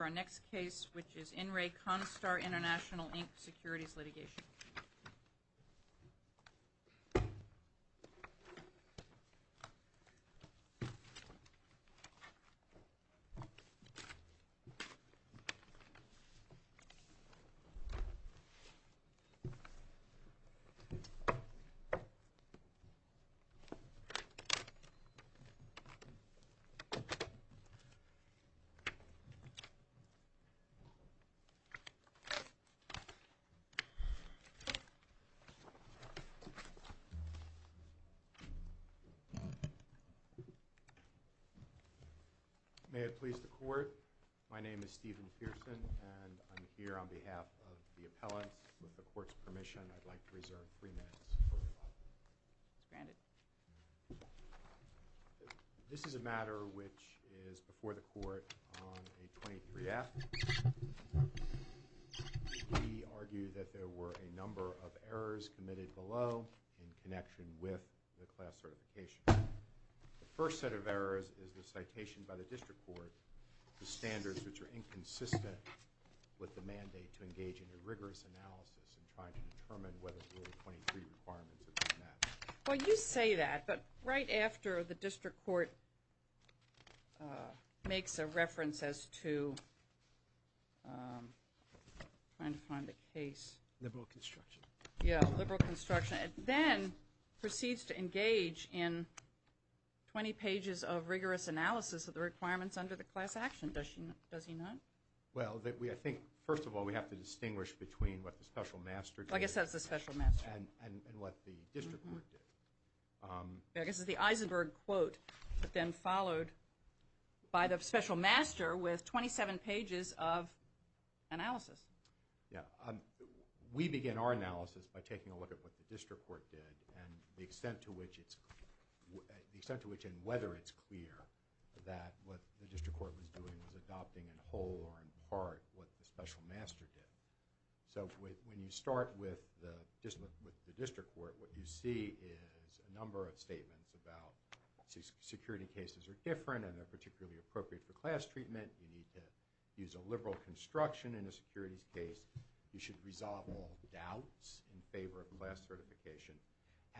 Our next case, which is In Re Constar International Inc. Securities Litigation. May it please the court, my name is Stephen Pearson, and I'm here on behalf of the appellate with the court's permission. I'd like to reserve three minutes. This is a matter which is before the court on a 23-F. We argue that there were a number of errors committed below in connection with the class certification. The first set of errors is the citation by the district court, the standards which are inconsistent with the mandate to engage in a rigorous analysis in trying to determine whether the 23 requirements have been met. Well, you say that, but right after the district court makes a reference as to trying to find a case. Liberal construction. Yeah, liberal construction. It then proceeds to engage in 20 pages of rigorous analysis of the requirements under the class action. Does he not? Well, I think, first of all, we have to distinguish between what the special master did. I guess that's the special master. And what the district court did. I guess it's the Eisenberg quote, but then followed by the special master with 27 pages of analysis. Yeah. We begin our analysis by taking a look at what the district court did and the extent to which it's, the extent to which and whether it's clear that what the district court was doing was adopting in whole or in part what the special master did. So when you start with the district court, what you see is a number of statements about security cases are different and they're particularly appropriate for class treatment. You need to use a liberal construction in a securities case. You should resolve all doubts in favor of class certification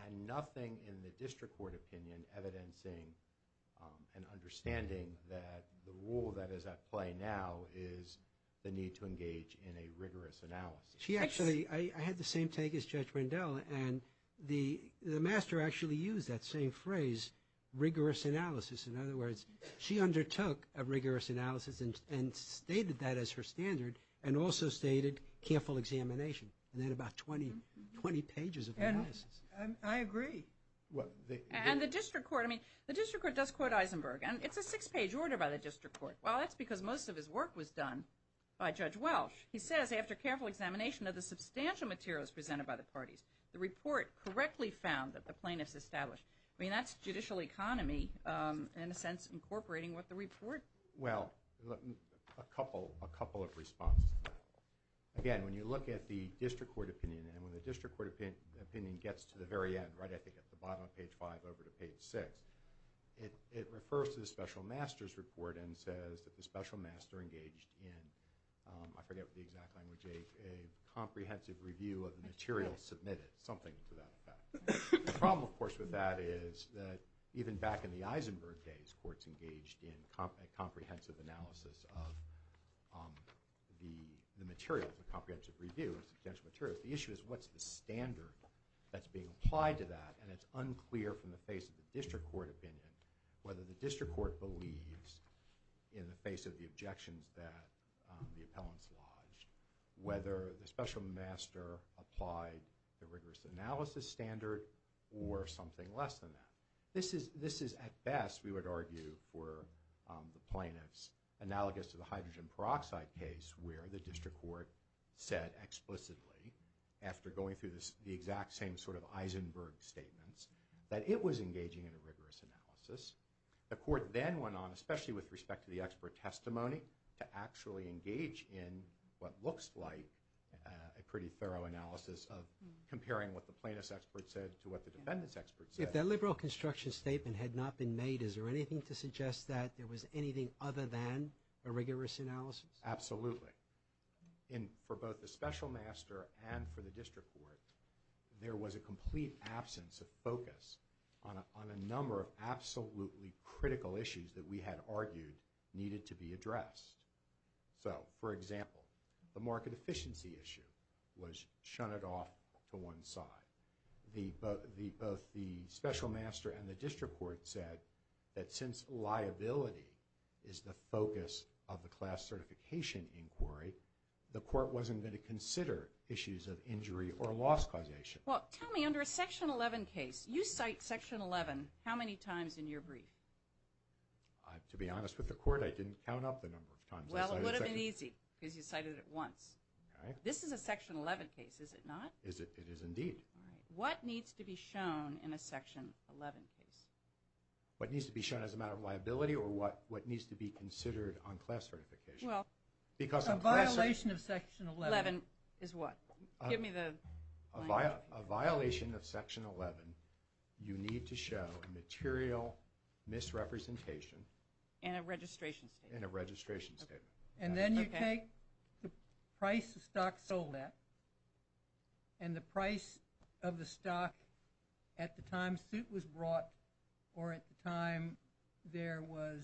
and nothing in the district court opinion evidencing and understanding that the role that is at play now is the need to engage in a rigorous analysis. She actually, I had the same take as Judge Rendell, and the master actually used that same phrase, rigorous analysis. In other words, she undertook a rigorous analysis and stated that as her standard and also stated careful examination. And then about 20 pages of analysis. I agree. And the district court, I mean, the district court does quote Eisenberg. And it's a six-page order by the district court. Well, that's because most of his work was done by Judge Welsh. He says, after careful examination of the substantial materials presented by the parties, the report correctly found that the plaintiff's established. I mean, that's judicial economy in a sense incorporating what the report. Well, a couple of responses. Again, when you look at the district court opinion and when the district court opinion gets to the very end, right at the bottom of page five over to page six, it refers to the special master's report and says that the special master engaged in, I forget the exact language, a comprehensive review of the materials submitted, something to that effect. The problem, of course, with that is that even back in the Eisenberg days, courts engaged in a comprehensive analysis of the materials, a comprehensive review of substantial materials. So the issue is what's the standard that's being applied to that? And it's unclear from the face of the district court opinion whether the district court believes in the face of the objections that the appellants lodged, whether the special master applied the rigorous analysis standard or something less than that. This is at best, we would argue, for the plaintiffs analogous to the hydrogen peroxide case where the district court said explicitly after going through the exact same sort of Eisenberg statements that it was engaging in a rigorous analysis. The court then went on, especially with respect to the expert testimony, to actually engage in what looks like a pretty thorough analysis of comparing what the plaintiff's expert said to what the defendant's expert said. If that liberal construction statement had not been made, is there anything to suggest that there was anything other than a rigorous analysis? Absolutely. And for both the special master and for the district court, there was a complete absence of focus on a number of absolutely critical issues that we had argued needed to be addressed. So, for example, the market efficiency issue was shunted off to one side. Both the special master and the district court said that since liability is the focus of the class certification inquiry, the court wasn't going to consider issues of injury or loss causation. Well, tell me, under a Section 11 case, you cite Section 11 how many times in your brief? To be honest with the court, I didn't count up the number of times. Well, it would have been easy because you cited it once. This is a Section 11 case, is it not? It is indeed. All right. What needs to be shown in a Section 11 case? What needs to be shown as a matter of liability or what needs to be considered on class certification? Well, a violation of Section 11 is what? Give me the line. A violation of Section 11, you need to show a material misrepresentation. And a registration statement. And a registration statement. And then you take the price the stock sold at and the price of the stock at the time suit was brought or at the time there was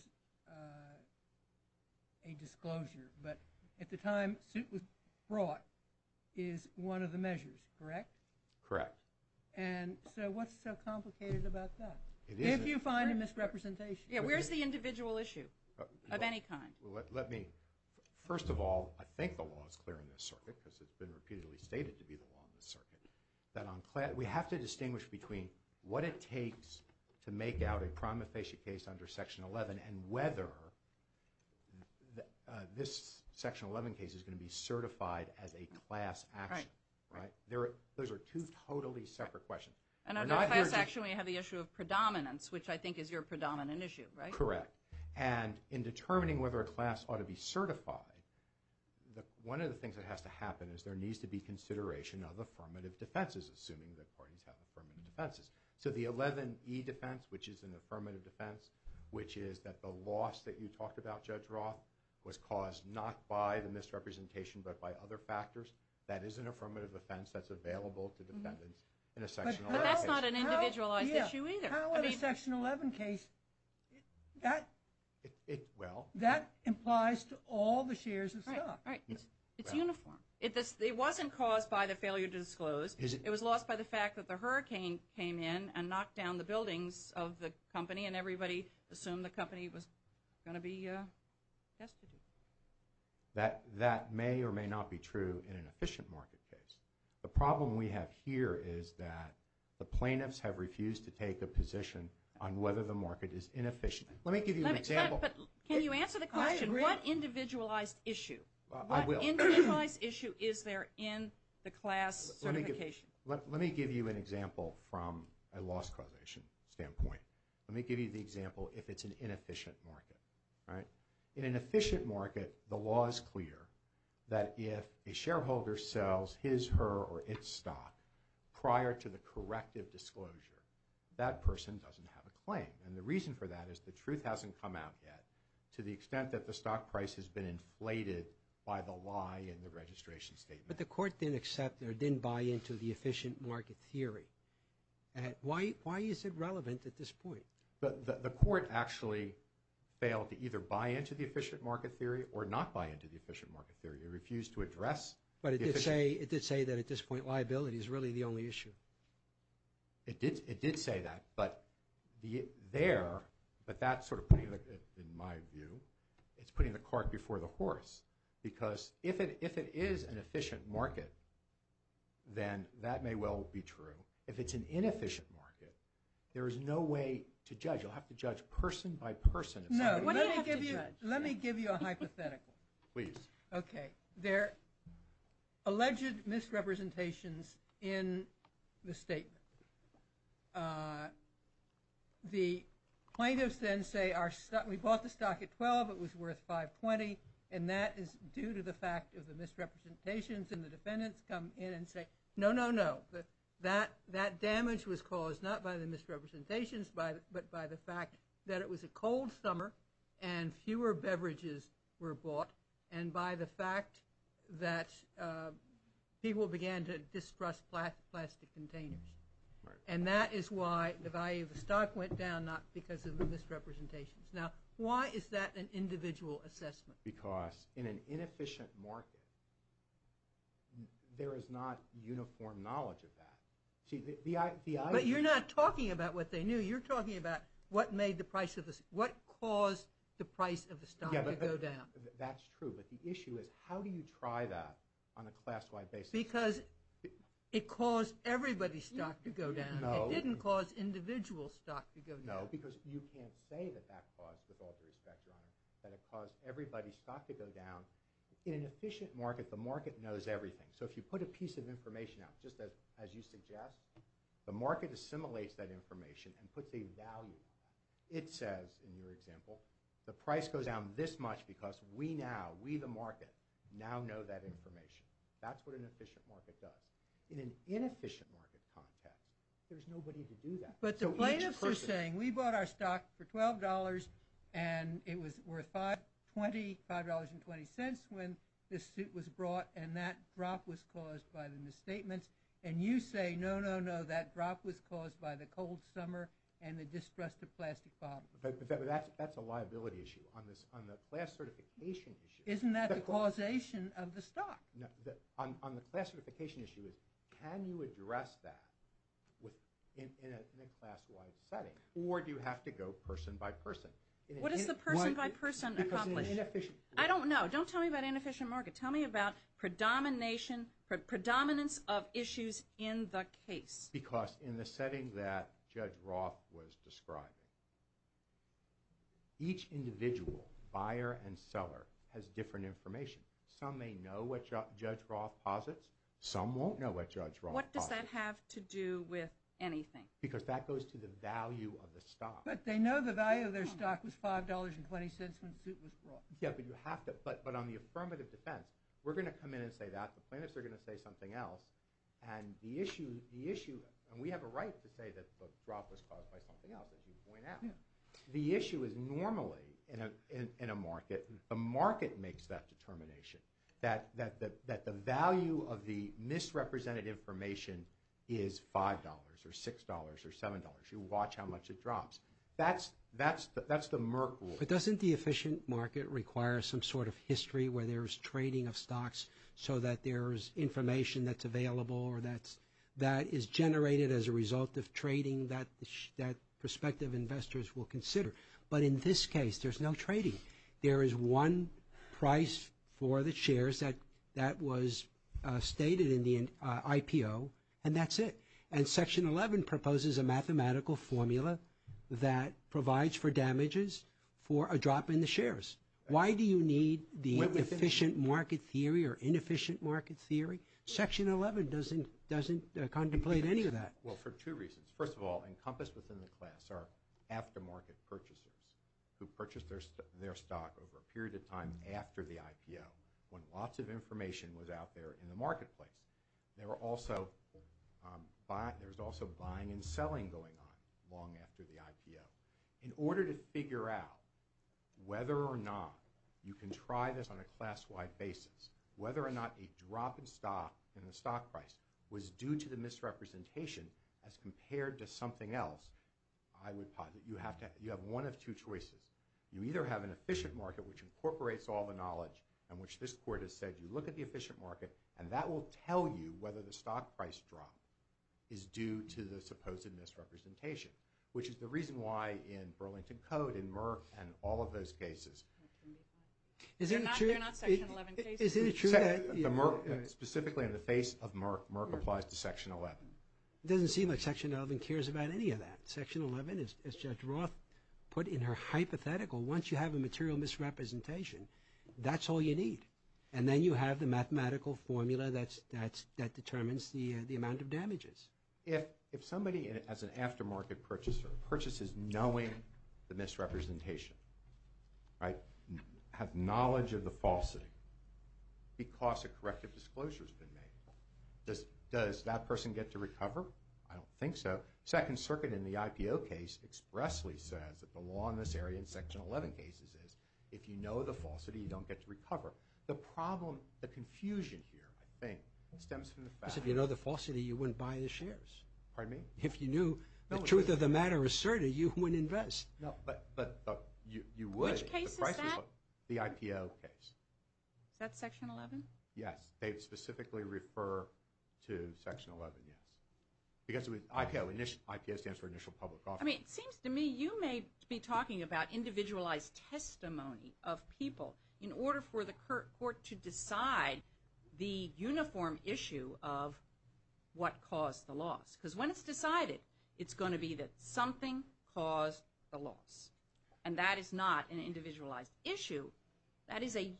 a disclosure. But at the time suit was brought is one of the measures, correct? Correct. And so what's so complicated about that? It isn't. If you find a misrepresentation. Yeah, where's the individual issue of any kind? First of all, I think the law is clear in this circuit because it's been repeatedly stated to be the law in this circuit. We have to distinguish between what it takes to make out a prima facie case under Section 11 and whether this Section 11 case is going to be certified as a class action. Those are two totally separate questions. And under class action we have the issue of predominance, which I think is your predominant issue, right? Correct. And in determining whether a class ought to be certified, one of the things that has to happen is there needs to be consideration of affirmative defenses, assuming that parties have affirmative defenses. So the 11E defense, which is an affirmative defense, which is that the loss that you talked about, Judge Roth, was caused not by the misrepresentation but by other factors, that is an affirmative defense that's available to defendants in a Section 11 case. But that's not an individualized issue either. Now in a Section 11 case, that implies to all the shares itself. It's uniform. It wasn't caused by the failure to disclose. It was lost by the fact that the hurricane came in and knocked down the buildings of the company and everybody assumed the company was going to be destitute. That may or may not be true in an efficient market case. The problem we have here is that the plaintiffs have refused to take a position on whether the market is inefficient. Let me give you an example. But can you answer the question? What individualized issue is there in the class certification? Let me give you an example from a loss causation standpoint. Let me give you the example if it's an inefficient market. In an efficient market, the law is clear that if a shareholder sells his, her, or its stock prior to the corrective disclosure, that person doesn't have a claim. And the reason for that is the truth hasn't come out yet to the extent that the stock price has been inflated by the lie in the registration statement. But the court didn't accept or didn't buy into the efficient market theory. Why is it relevant at this point? The court actually failed to either buy into the efficient market theory or not buy into the efficient market theory. It refused to address. But it did say that at this point liability is really the only issue. It did say that. But there, but that's sort of putting it in my view, it's putting the cart before the horse. Because if it is an efficient market, then that may well be true. If it's an inefficient market, there is no way to judge. You'll have to judge person by person. No. What do you have to judge? Let me give you a hypothetical. Please. Okay. There are alleged misrepresentations in the statement. The plaintiffs then say, we bought the stock at $12. It was worth $5.20. And that is due to the fact of the misrepresentations. And the defendants come in and say, no, no, no. That damage was caused not by the misrepresentations, but by the fact that it was a cold summer and fewer beverages were bought, and by the fact that people began to distrust plastic containers. And that is why the value of the stock went down, not because of the misrepresentations. Now, why is that an individual assessment? Because in an inefficient market, there is not uniform knowledge of that. But you're not talking about what they knew. You're talking about what caused the price of the stock to go down. That's true. But the issue is how do you try that on a class-wide basis? Because it caused everybody's stock to go down. It didn't cause individual stock to go down. No, because you can't say that that caused, with all due respect, Your Honor, that it caused everybody's stock to go down. In an efficient market, the market knows everything. So if you put a piece of information out, just as you suggest, the market assimilates that information and puts a value on it. It says, in your example, the price goes down this much because we now, we the market, now know that information. That's what an efficient market does. In an inefficient market context, there's nobody to do that. But the plaintiffs are saying, we bought our stock for $12 and it was worth $5.20 when this suit was brought and that drop was caused by the misstatements. And you say, no, no, no, that drop was caused by the cold summer and the distrust of plastic bottles. But that's a liability issue. On the class certification issue. Isn't that the causation of the stock? On the class certification issue, can you address that in a class-wide setting? Or do you have to go person-by-person? What does the person-by-person accomplish? I don't know. Don't tell me about inefficient market. Tell me about predominance of issues in the case. Because in the setting that Judge Roth was describing, each individual, buyer and seller, has different information. Some may know what Judge Roth posits. Some won't know what Judge Roth posits. What does that have to do with anything? Because that goes to the value of the stock. But they know the value of their stock was $5.20 when the suit was brought. Yeah, but on the affirmative defense, we're going to come in and say that. The plaintiffs are going to say something else. And we have a right to say that the drop was caused by something else, as you point out. The issue is normally, in a market, the market makes that determination. That the value of the misrepresented information is $5 or $6 or $7. You watch how much it drops. That's the Merck rule. But doesn't the efficient market require some sort of history where there's trading of stocks so that there's information that's available or that is generated as a result of trading that prospective investors will consider? But in this case, there's no trading. There is one price for the shares that was stated in the IPO, and that's it. And Section 11 proposes a mathematical formula that provides for damages for a drop in the shares. Why do you need the efficient market theory or inefficient market theory? Section 11 doesn't contemplate any of that. Well, for two reasons. First of all, encompassed within the class are aftermarket purchasers who purchased their stock over a period of time after the IPO when lots of information was out there in the marketplace. There was also buying and selling going on long after the IPO. In order to figure out whether or not you can try this on a class-wide basis, whether or not a drop in the stock price was due to the misrepresentation as compared to something else, I would posit that you have one of two choices. You either have an efficient market, which incorporates all the knowledge on which this Court has said you look at the efficient market, and that will tell you whether the stock price drop is due to the supposed misrepresentation, which is the reason why in Burlington Code, in Merck, and all of those cases... They're not Section 11 cases. Is it true that... Specifically in the face of Merck, Merck applies to Section 11. It doesn't seem like Section 11 cares about any of that. Section 11, as Judge Roth put in her hypothetical, once you have a material misrepresentation, that's all you need. And then you have the mathematical formula that determines the amount of damages. If somebody, as an aftermarket purchaser, purchases knowing the misrepresentation, has knowledge of the falsity because a corrective disclosure has been made, does that person get to recover? I don't think so. Second Circuit in the IPO case expressly says that the law in this area in Section 11 cases is if you know the falsity, you don't get to recover. The problem, the confusion here, I think, stems from the fact... Because if you know the falsity, you wouldn't buy the shares. Pardon me? If you knew the truth of the matter is certain, you wouldn't invest. No, but you would... Which case is that? The IPO case. Is that Section 11? Yes. They specifically refer to Section 11, yes. Because IPO stands for Initial Public Offering. I mean, it seems to me you may be talking about individualized testimony of people in order for the court to decide the uniform issue of what caused the loss. Because when it's decided, it's going to be that something caused the loss. And that is not an individualized issue. That is an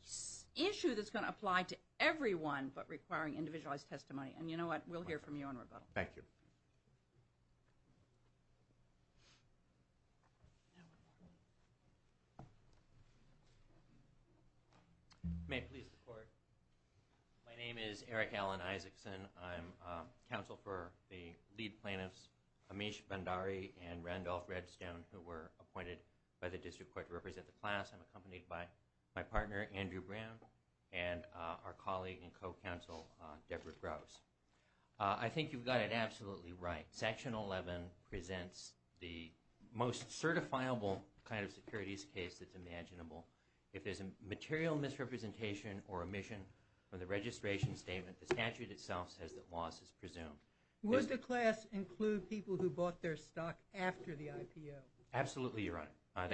issue that's going to apply to everyone but requiring individualized testimony. And you know what? We'll hear from you on rebuttal. Thank you. May it please the Court. My name is Eric Alan Isaacson. I'm counsel for the lead plaintiffs, Amish Bhandari and Randolph Redstone, who were appointed by the District Court to represent the class. I'm accompanied by my partner, Andrew Brown, and our colleague and co-counsel, Deborah Grouse. I think you've got it absolutely right. Section 11 presents the most certifiable kind of securities case that's imaginable. If there's a material misrepresentation or omission from the registration statement, the statute itself says that loss is presumed. Would the class include people who bought their stock after the IPO? Absolutely, Your Honor.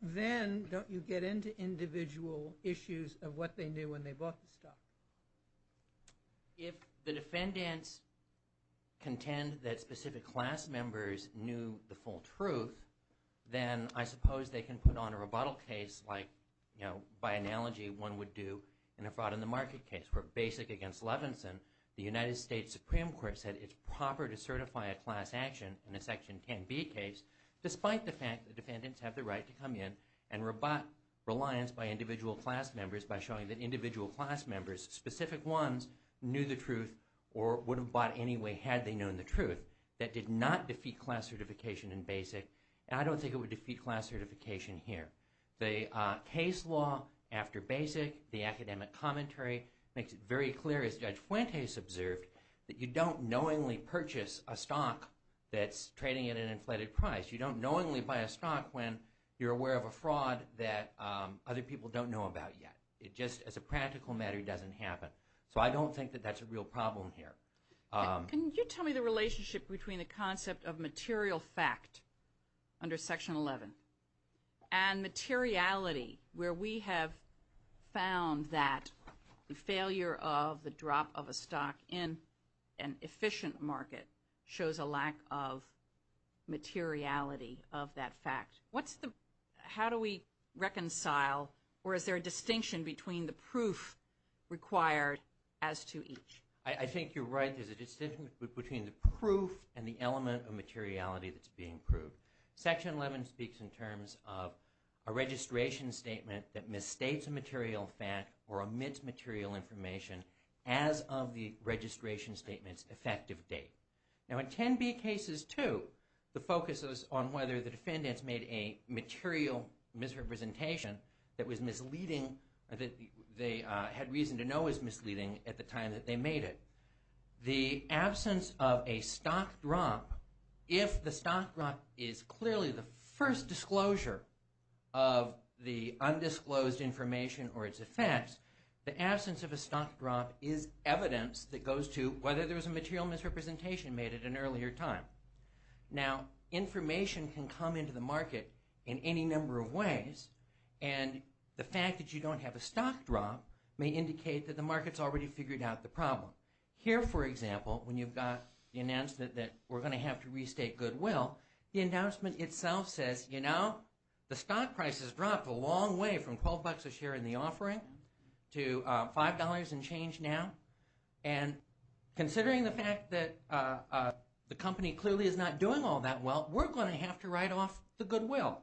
Then don't you get into individual issues of what they knew when they bought the stock? If the defendants contend that specific class members knew the full truth, then I suppose they can put on a rebuttal case like, you know, by analogy one would do in a fraud in the market case where basic against Levinson, the United States Supreme Court said it's proper to certify a class action in a Section 10B case despite the fact that defendants have the right to come in and rebut reliance by individual class members by showing that individual class members, specific ones, knew the truth or would have bought anyway had they known the truth. That did not defeat class certification in basic, and I don't think it would defeat class certification here. The case law after basic, the academic commentary makes it very clear, as Judge Fuentes observed, that you don't knowingly purchase a stock that's trading at an inflated price. You don't knowingly buy a stock when you're aware of a fraud that other people don't know about yet. It just, as a practical matter, doesn't happen. So I don't think that that's a real problem here. Can you tell me the relationship between the concept of material fact under Section 11 and materiality where we have found that the failure of the drop of a stock in an efficient market shows a lack of materiality of that fact. What's the, how do we reconcile, or is there a distinction between the proof required as to each? I think you're right. There's a distinction between the proof and the element of materiality that's being proved. Section 11 speaks in terms of a registration statement that misstates a material fact or omits material information as of the registration statement's effective date. Now in 10B cases too, the focus is on whether the defendants made a material misrepresentation that was misleading, that they had reason to know was misleading at the time that they made it. The absence of a stock drop, if the stock drop is clearly the first disclosure of the undisclosed information or its effects, the absence of a stock drop is evidence that goes to whether there was a material misrepresentation made at an earlier time. Now information can come into the market in any number of ways, and the fact that you don't have a stock drop may indicate that the market's already figured out the problem. Here, for example, when you've got the announcement that we're going to have to restate goodwill, the announcement itself says, you know, the stock price has dropped a long way from $12 a share in the offering to $5 and change now, and considering the fact that the company clearly is not doing all that well, we're going to have to write off the goodwill.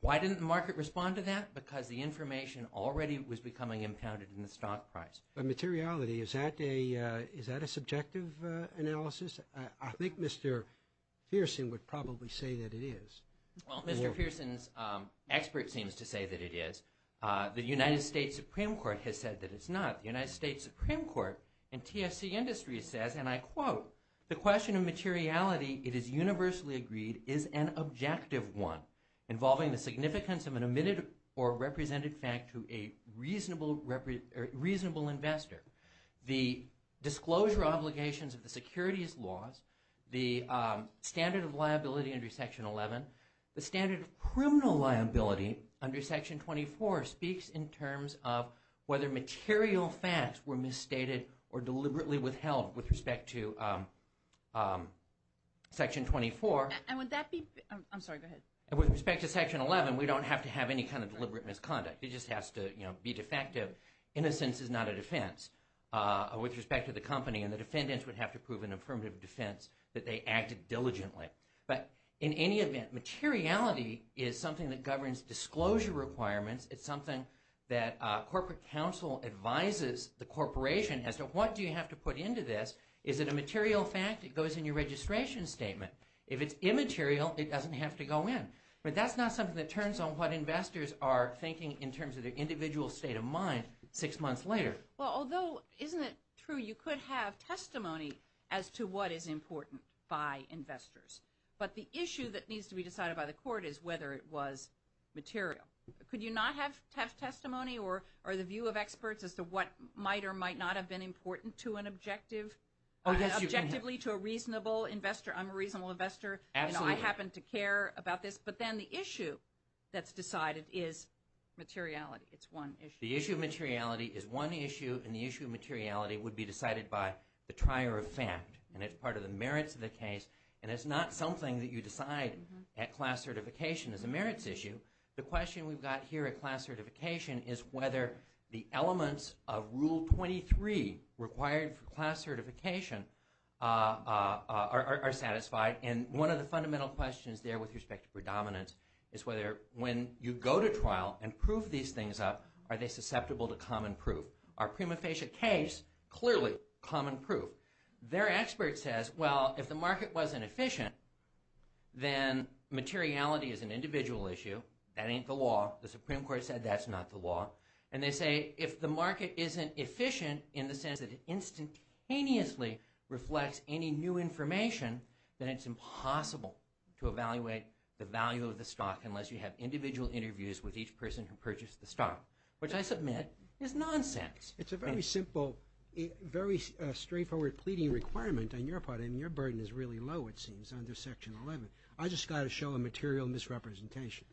Why didn't the market respond to that? Because the information already was becoming impounded in the stock price. But materiality, is that a subjective analysis? I think Mr. Pearson would probably say that it is. Well, Mr. Pearson's expert seems to say that it is. The United States Supreme Court has said that it's not. The United States Supreme Court and TSC Industries says, and I quote, the question of materiality, it is universally agreed, is an objective one, The disclosure obligations of the securities laws, the standard of liability under Section 11, the standard of criminal liability under Section 24 speaks in terms of whether material facts were misstated or deliberately withheld with respect to Section 24. And would that be, I'm sorry, go ahead. With respect to Section 11, we don't have to have any kind of deliberate misconduct. It just has to be defective. Innocence is not a defense with respect to the company. And the defendants would have to prove an affirmative defense that they acted diligently. But in any event, materiality is something that governs disclosure requirements. It's something that corporate counsel advises the corporation as to what do you have to put into this. Is it a material fact? It goes in your registration statement. If it's immaterial, it doesn't have to go in. But that's not something that turns on what investors are thinking in terms of their individual state of mind six months later. Well, although, isn't it true you could have testimony as to what is important by investors? But the issue that needs to be decided by the court is whether it was material. Could you not have testimony or the view of experts as to what might or might not have been important to an objective? Objectively to a reasonable investor. I'm a reasonable investor. Absolutely. I happen to care about this. But then the issue that's decided is materiality. It's one issue. The issue of materiality is one issue, and the issue of materiality would be decided by the trier of fact. And it's part of the merits of the case. And it's not something that you decide at class certification as a merits issue. The question we've got here at class certification is whether the elements of Rule 23 required for class certification are satisfied. And one of the fundamental questions there with respect to predominance is whether when you go to trial and prove these things up, are they susceptible to common proof? Our prima facie case, clearly, common proof. Their expert says, well, if the market wasn't efficient, then materiality is an individual issue. That ain't the law. And they say if the market isn't efficient in the sense that it instantaneously reflects any new information, then it's impossible to evaluate the value of the stock unless you have individual interviews with each person who purchased the stock, which I submit is nonsense. It's a very simple, very straightforward pleading requirement on your part. And your burden is really low, it seems, under Section 11. I just got to show a material misrepresentation.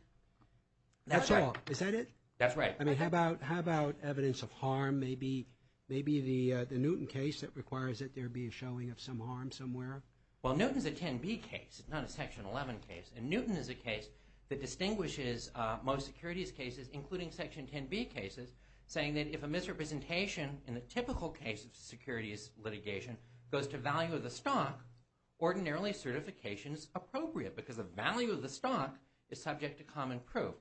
That's all. Is that it? That's right. I mean, how about evidence of harm? Maybe the Newton case that requires that there be a showing of some harm somewhere. Well, Newton's a 10B case. It's not a Section 11 case. And Newton is a case that distinguishes most securities cases, including Section 10B cases, saying that if a misrepresentation in the typical case of securities litigation goes to value of the stock, ordinarily certification is appropriate because the value of the stock is subject to common proof.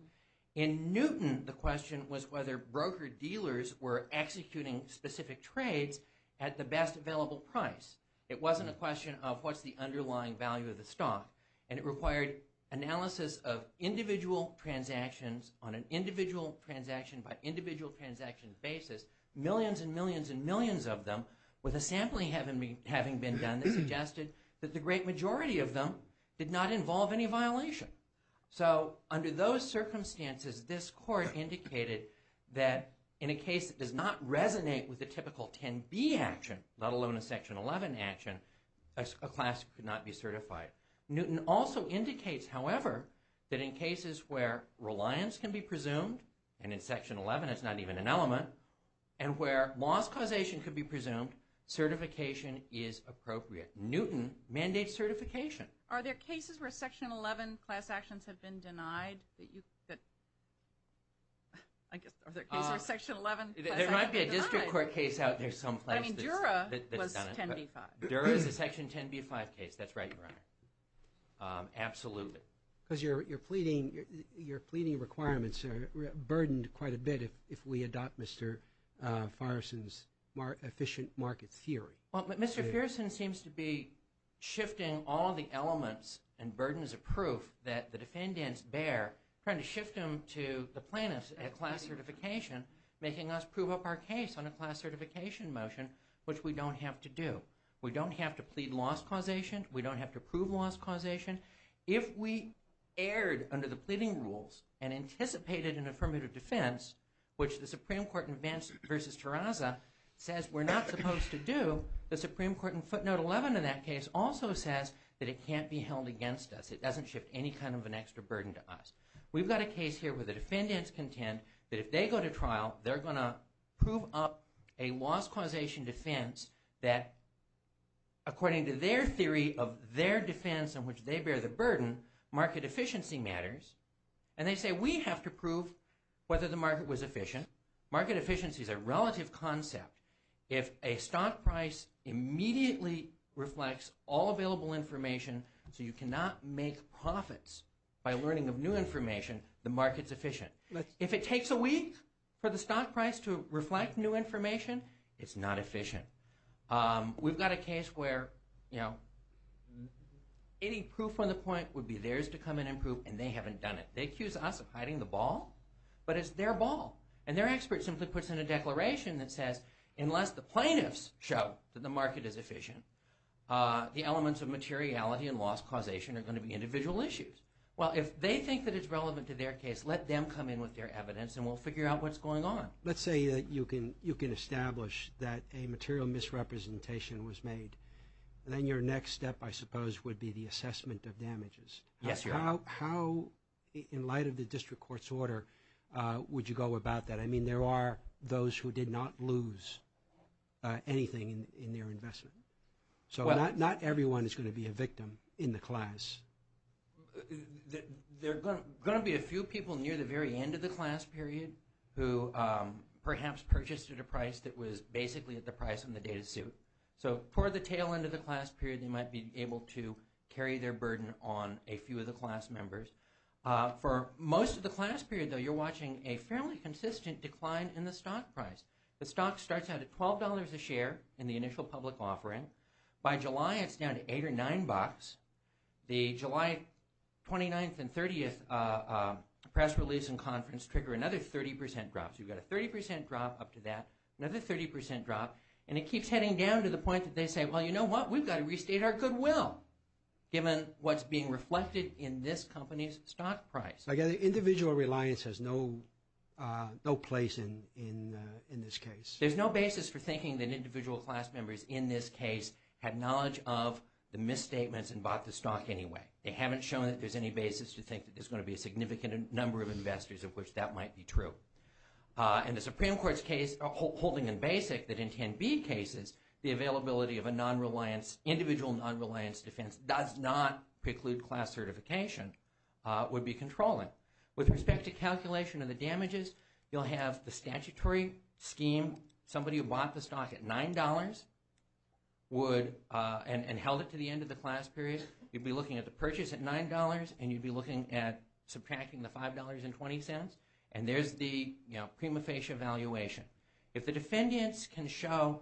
In Newton, the question was whether broker-dealers were executing specific trades at the best available price. It wasn't a question of what's the underlying value of the stock. And it required analysis of individual transactions on an individual-transaction-by-individual-transaction basis, millions and millions and millions of them, with a sampling having been done that suggested that the great majority of them did not involve any violation. So under those circumstances, this court indicated that in a case that does not resonate with the typical 10B action, let alone a Section 11 action, a class could not be certified. Newton also indicates, however, that in cases where reliance can be presumed, and in Section 11 it's not even an element, and where loss causation could be presumed, certification is appropriate. Newton mandates certification. Are there cases where Section 11 class actions have been denied? I guess, are there cases where Section 11 class actions have been denied? There might be a district court case out there someplace that's done it. I mean, Dura was 10B-5. Dura is a Section 10B-5 case. That's right, Your Honor. Absolutely. Because your pleading requirements are burdened quite a bit if we adopt Mr. Farrison's efficient market theory. Well, but Mr. Farrison seems to be shifting all the elements and burdens of proof that the defendants bear, trying to shift them to the plaintiffs at class certification, making us prove up our case on a class certification motion, which we don't have to do. We don't have to plead loss causation. We don't have to prove loss causation. If we erred under the pleading rules and anticipated an affirmative defense, which the Supreme Court in Vance v. Terrazza says we're not supposed to do, the Supreme Court in footnote 11 in that case also says that it can't be held against us. It doesn't shift any kind of an extra burden to us. We've got a case here where the defendants contend that if they go to trial, they're going to prove up a loss causation defense that, according to their theory of their defense in which they bear the burden, market efficiency matters. And they say we have to prove whether the market was efficient. Market efficiency is a relative concept. If a stock price immediately reflects all available information so you cannot make profits by learning of new information, the market's efficient. If it takes a week for the stock price to reflect new information, it's not efficient. We've got a case where any proof on the point would be theirs to come in and prove, and they haven't done it. They accuse us of hiding the ball, but it's their ball. And their expert simply puts in a declaration that says unless the plaintiffs show that the market is efficient, the elements of materiality and loss causation are going to be individual issues. Well, if they think that it's relevant to their case, let them come in with their evidence, and we'll figure out what's going on. Let's say that you can establish that a material misrepresentation was made, then your next step, I suppose, would be the assessment of damages. Yes, Your Honor. How, in light of the district court's order, would you go about that? I mean, there are those who did not lose anything in their investment. So not everyone is going to be a victim in the class. There are going to be a few people near the very end of the class period who perhaps purchased at a price that was basically at the price on the data suit. So toward the tail end of the class period, they might be able to carry their burden on a few of the class members. For most of the class period, though, you're watching a fairly consistent decline in the stock price. The stock starts out at $12 a share in the initial public offering. By July, it's down to $8 or $9. The July 29th and 30th press release and conference trigger another 30% drop. So you've got a 30% drop up to that, another 30% drop. And it keeps heading down to the point that they say, well, you know what, we've got to restate our goodwill, given what's being reflected in this company's stock price. Again, individual reliance has no place in this case. There's no basis for thinking that individual class members in this case had knowledge of the misstatements and bought the stock anyway. They haven't shown that there's any basis to think that there's going to be a significant number of investors of which that might be true. And the Supreme Court's case holding in basic that in 10B cases, the availability of an individual non-reliance defense does not preclude class certification would be controlling. With respect to calculation of the damages, you'll have the statutory scheme. Somebody who bought the stock at $9 and held it to the end of the class period, you'd be looking at the purchase at $9, and you'd be looking at subtracting the $5.20. And there's the prima facie evaluation. If the defendants can show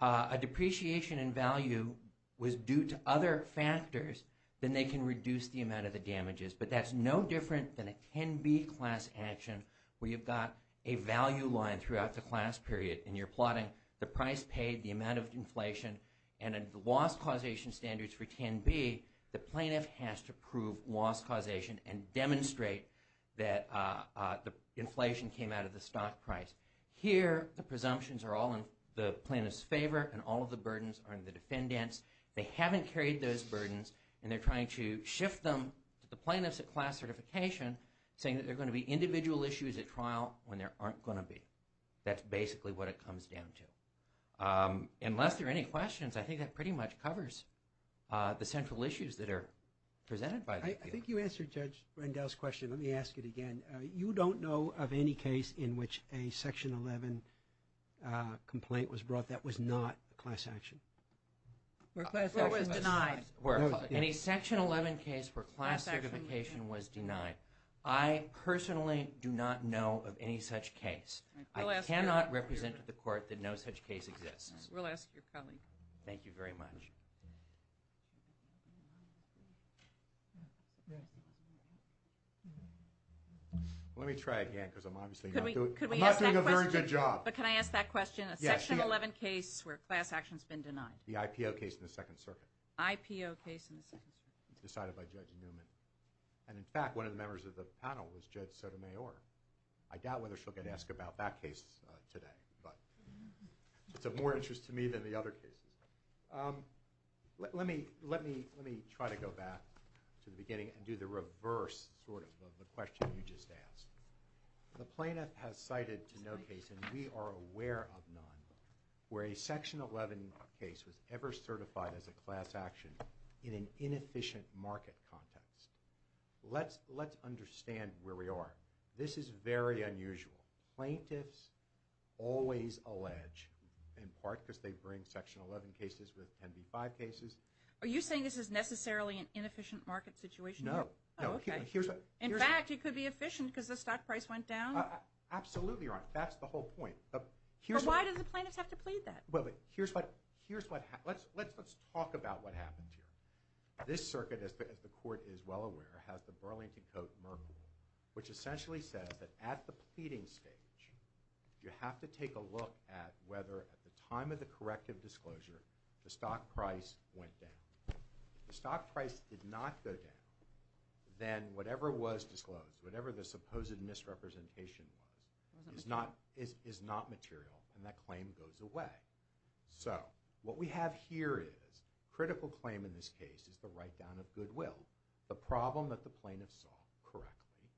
a depreciation in value was due to other factors, then they can reduce the amount of the damages. But that's no different than a 10B class action where you've got a value line throughout the class period, and you're plotting the price paid, the amount of inflation, and the loss causation standards for 10B, the plaintiff has to prove loss causation and demonstrate that the inflation came out of the stock price. Here, the presumptions are all in the plaintiff's favor, and all of the burdens are in the defendant's. They haven't carried those burdens, and they're trying to shift them to the plaintiffs at class certification, saying that there are going to be individual issues at trial when there aren't going to be. That's basically what it comes down to. Unless there are any questions, I think that pretty much covers the central issues that are presented by the appeal. I think you answered Judge Rendell's question. Let me ask it again. You don't know of any case in which a Section 11 complaint was brought that was not a class action? Or was denied. Any Section 11 case where class certification was denied. I personally do not know of any such case. I cannot represent to the court that no such case exists. We'll ask your colleague. Thank you very much. Let me try again, because I'm obviously not doing a very good job. But can I ask that question? A Section 11 case where class action's been denied. The IPO case in the Second Circuit. IPO case in the Second Circuit. Decided by Judge Newman. And, in fact, one of the members of the panel was Judge Sotomayor. I doubt whether she'll get asked about that case today. But it's of more interest to me than the other cases. Let me try to go back to the beginning and do the reverse sort of of the question you just asked. The plaintiff has cited to no case, and we are aware of none, where a Section 11 case was ever certified as a class action in an inefficient market context. Let's understand where we are. This is very unusual. Plaintiffs always allege, in part because they bring Section 11 cases with 10b-5 cases. Are you saying this is necessarily an inefficient market situation? No. Oh, okay. In fact, it could be efficient because the stock price went down? Absolutely wrong. That's the whole point. But why do the plaintiffs have to plead that? Well, but here's what happens. Let's talk about what happens here. This circuit, as the Court is well aware, has the Burlington Coat Merkle, which essentially says that at the pleading stage, you have to take a look at whether, at the time of the corrective disclosure, the stock price went down. If the stock price did not go down, then whatever was disclosed, whatever the supposed misrepresentation was, is not material, and that claim goes away. So what we have here is a critical claim in this case is the write-down of goodwill. The problem that the plaintiffs saw correctly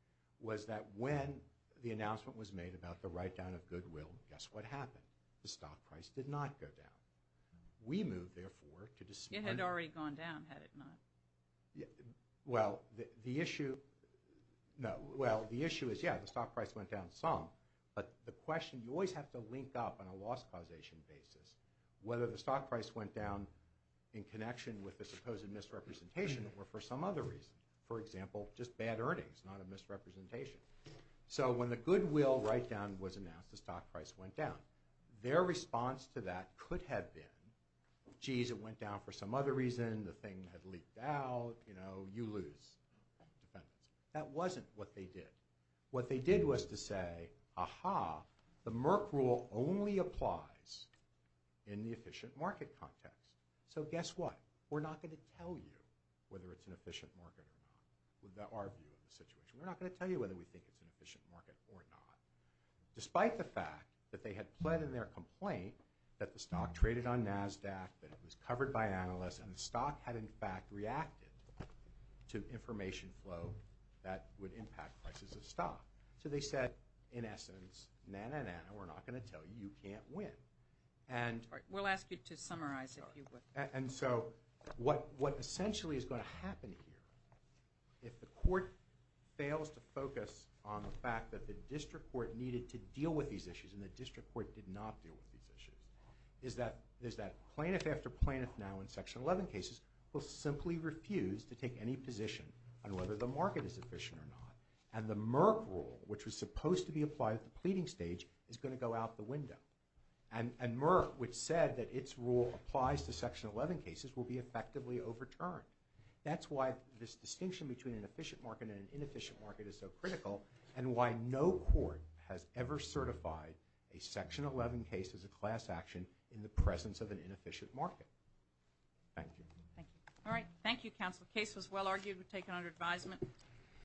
was that when the announcement was made about the write-down of goodwill, guess what happened? The stock price did not go down. We moved, therefore, to dismiss. It had already gone down, had it not. Well, the issue is, yeah, the stock price went down some, but the question, you always have to link up on a loss causation basis whether the stock price went down in connection with the supposed misrepresentation or for some other reason. For example, just bad earnings, not a misrepresentation. So when the goodwill write-down was announced, the stock price went down. Their response to that could have been, geez, it went down for some other reason, the thing had leaked out, you know, you lose. That wasn't what they did. What they did was to say, aha, the Merck rule only applies in the efficient market context. So guess what? We're not going to tell you whether it's an efficient market or not. That's our view of the situation. We're not going to tell you whether we think it's an efficient market or not. Despite the fact that they had pled in their complaint that the stock traded on NASDAQ, that it was covered by analysts, and the stock had, in fact, reacted to information flow that would impact prices of stock. So they said, in essence, na-na-na, we're not going to tell you, you can't win. All right, we'll ask you to summarize if you would. And so what essentially is going to happen here, if the court fails to focus on the fact that the district court needed to deal with these issues and the district court did not deal with these issues, is that plaintiff after plaintiff now in Section 11 cases will simply refuse to take any position on whether the market is efficient or not. And the Merck rule, which was supposed to be applied at the pleading stage, is going to go out the window. And Merck, which said that its rule applies to Section 11 cases, will be effectively overturned. That's why this distinction between an efficient market and an inefficient market is so critical, and why no court has ever certified a Section 11 case as a class action in the presence of an inefficient market. Thank you. Thank you. All right, thank you, Counsel. The case was well argued. We take it under advisement.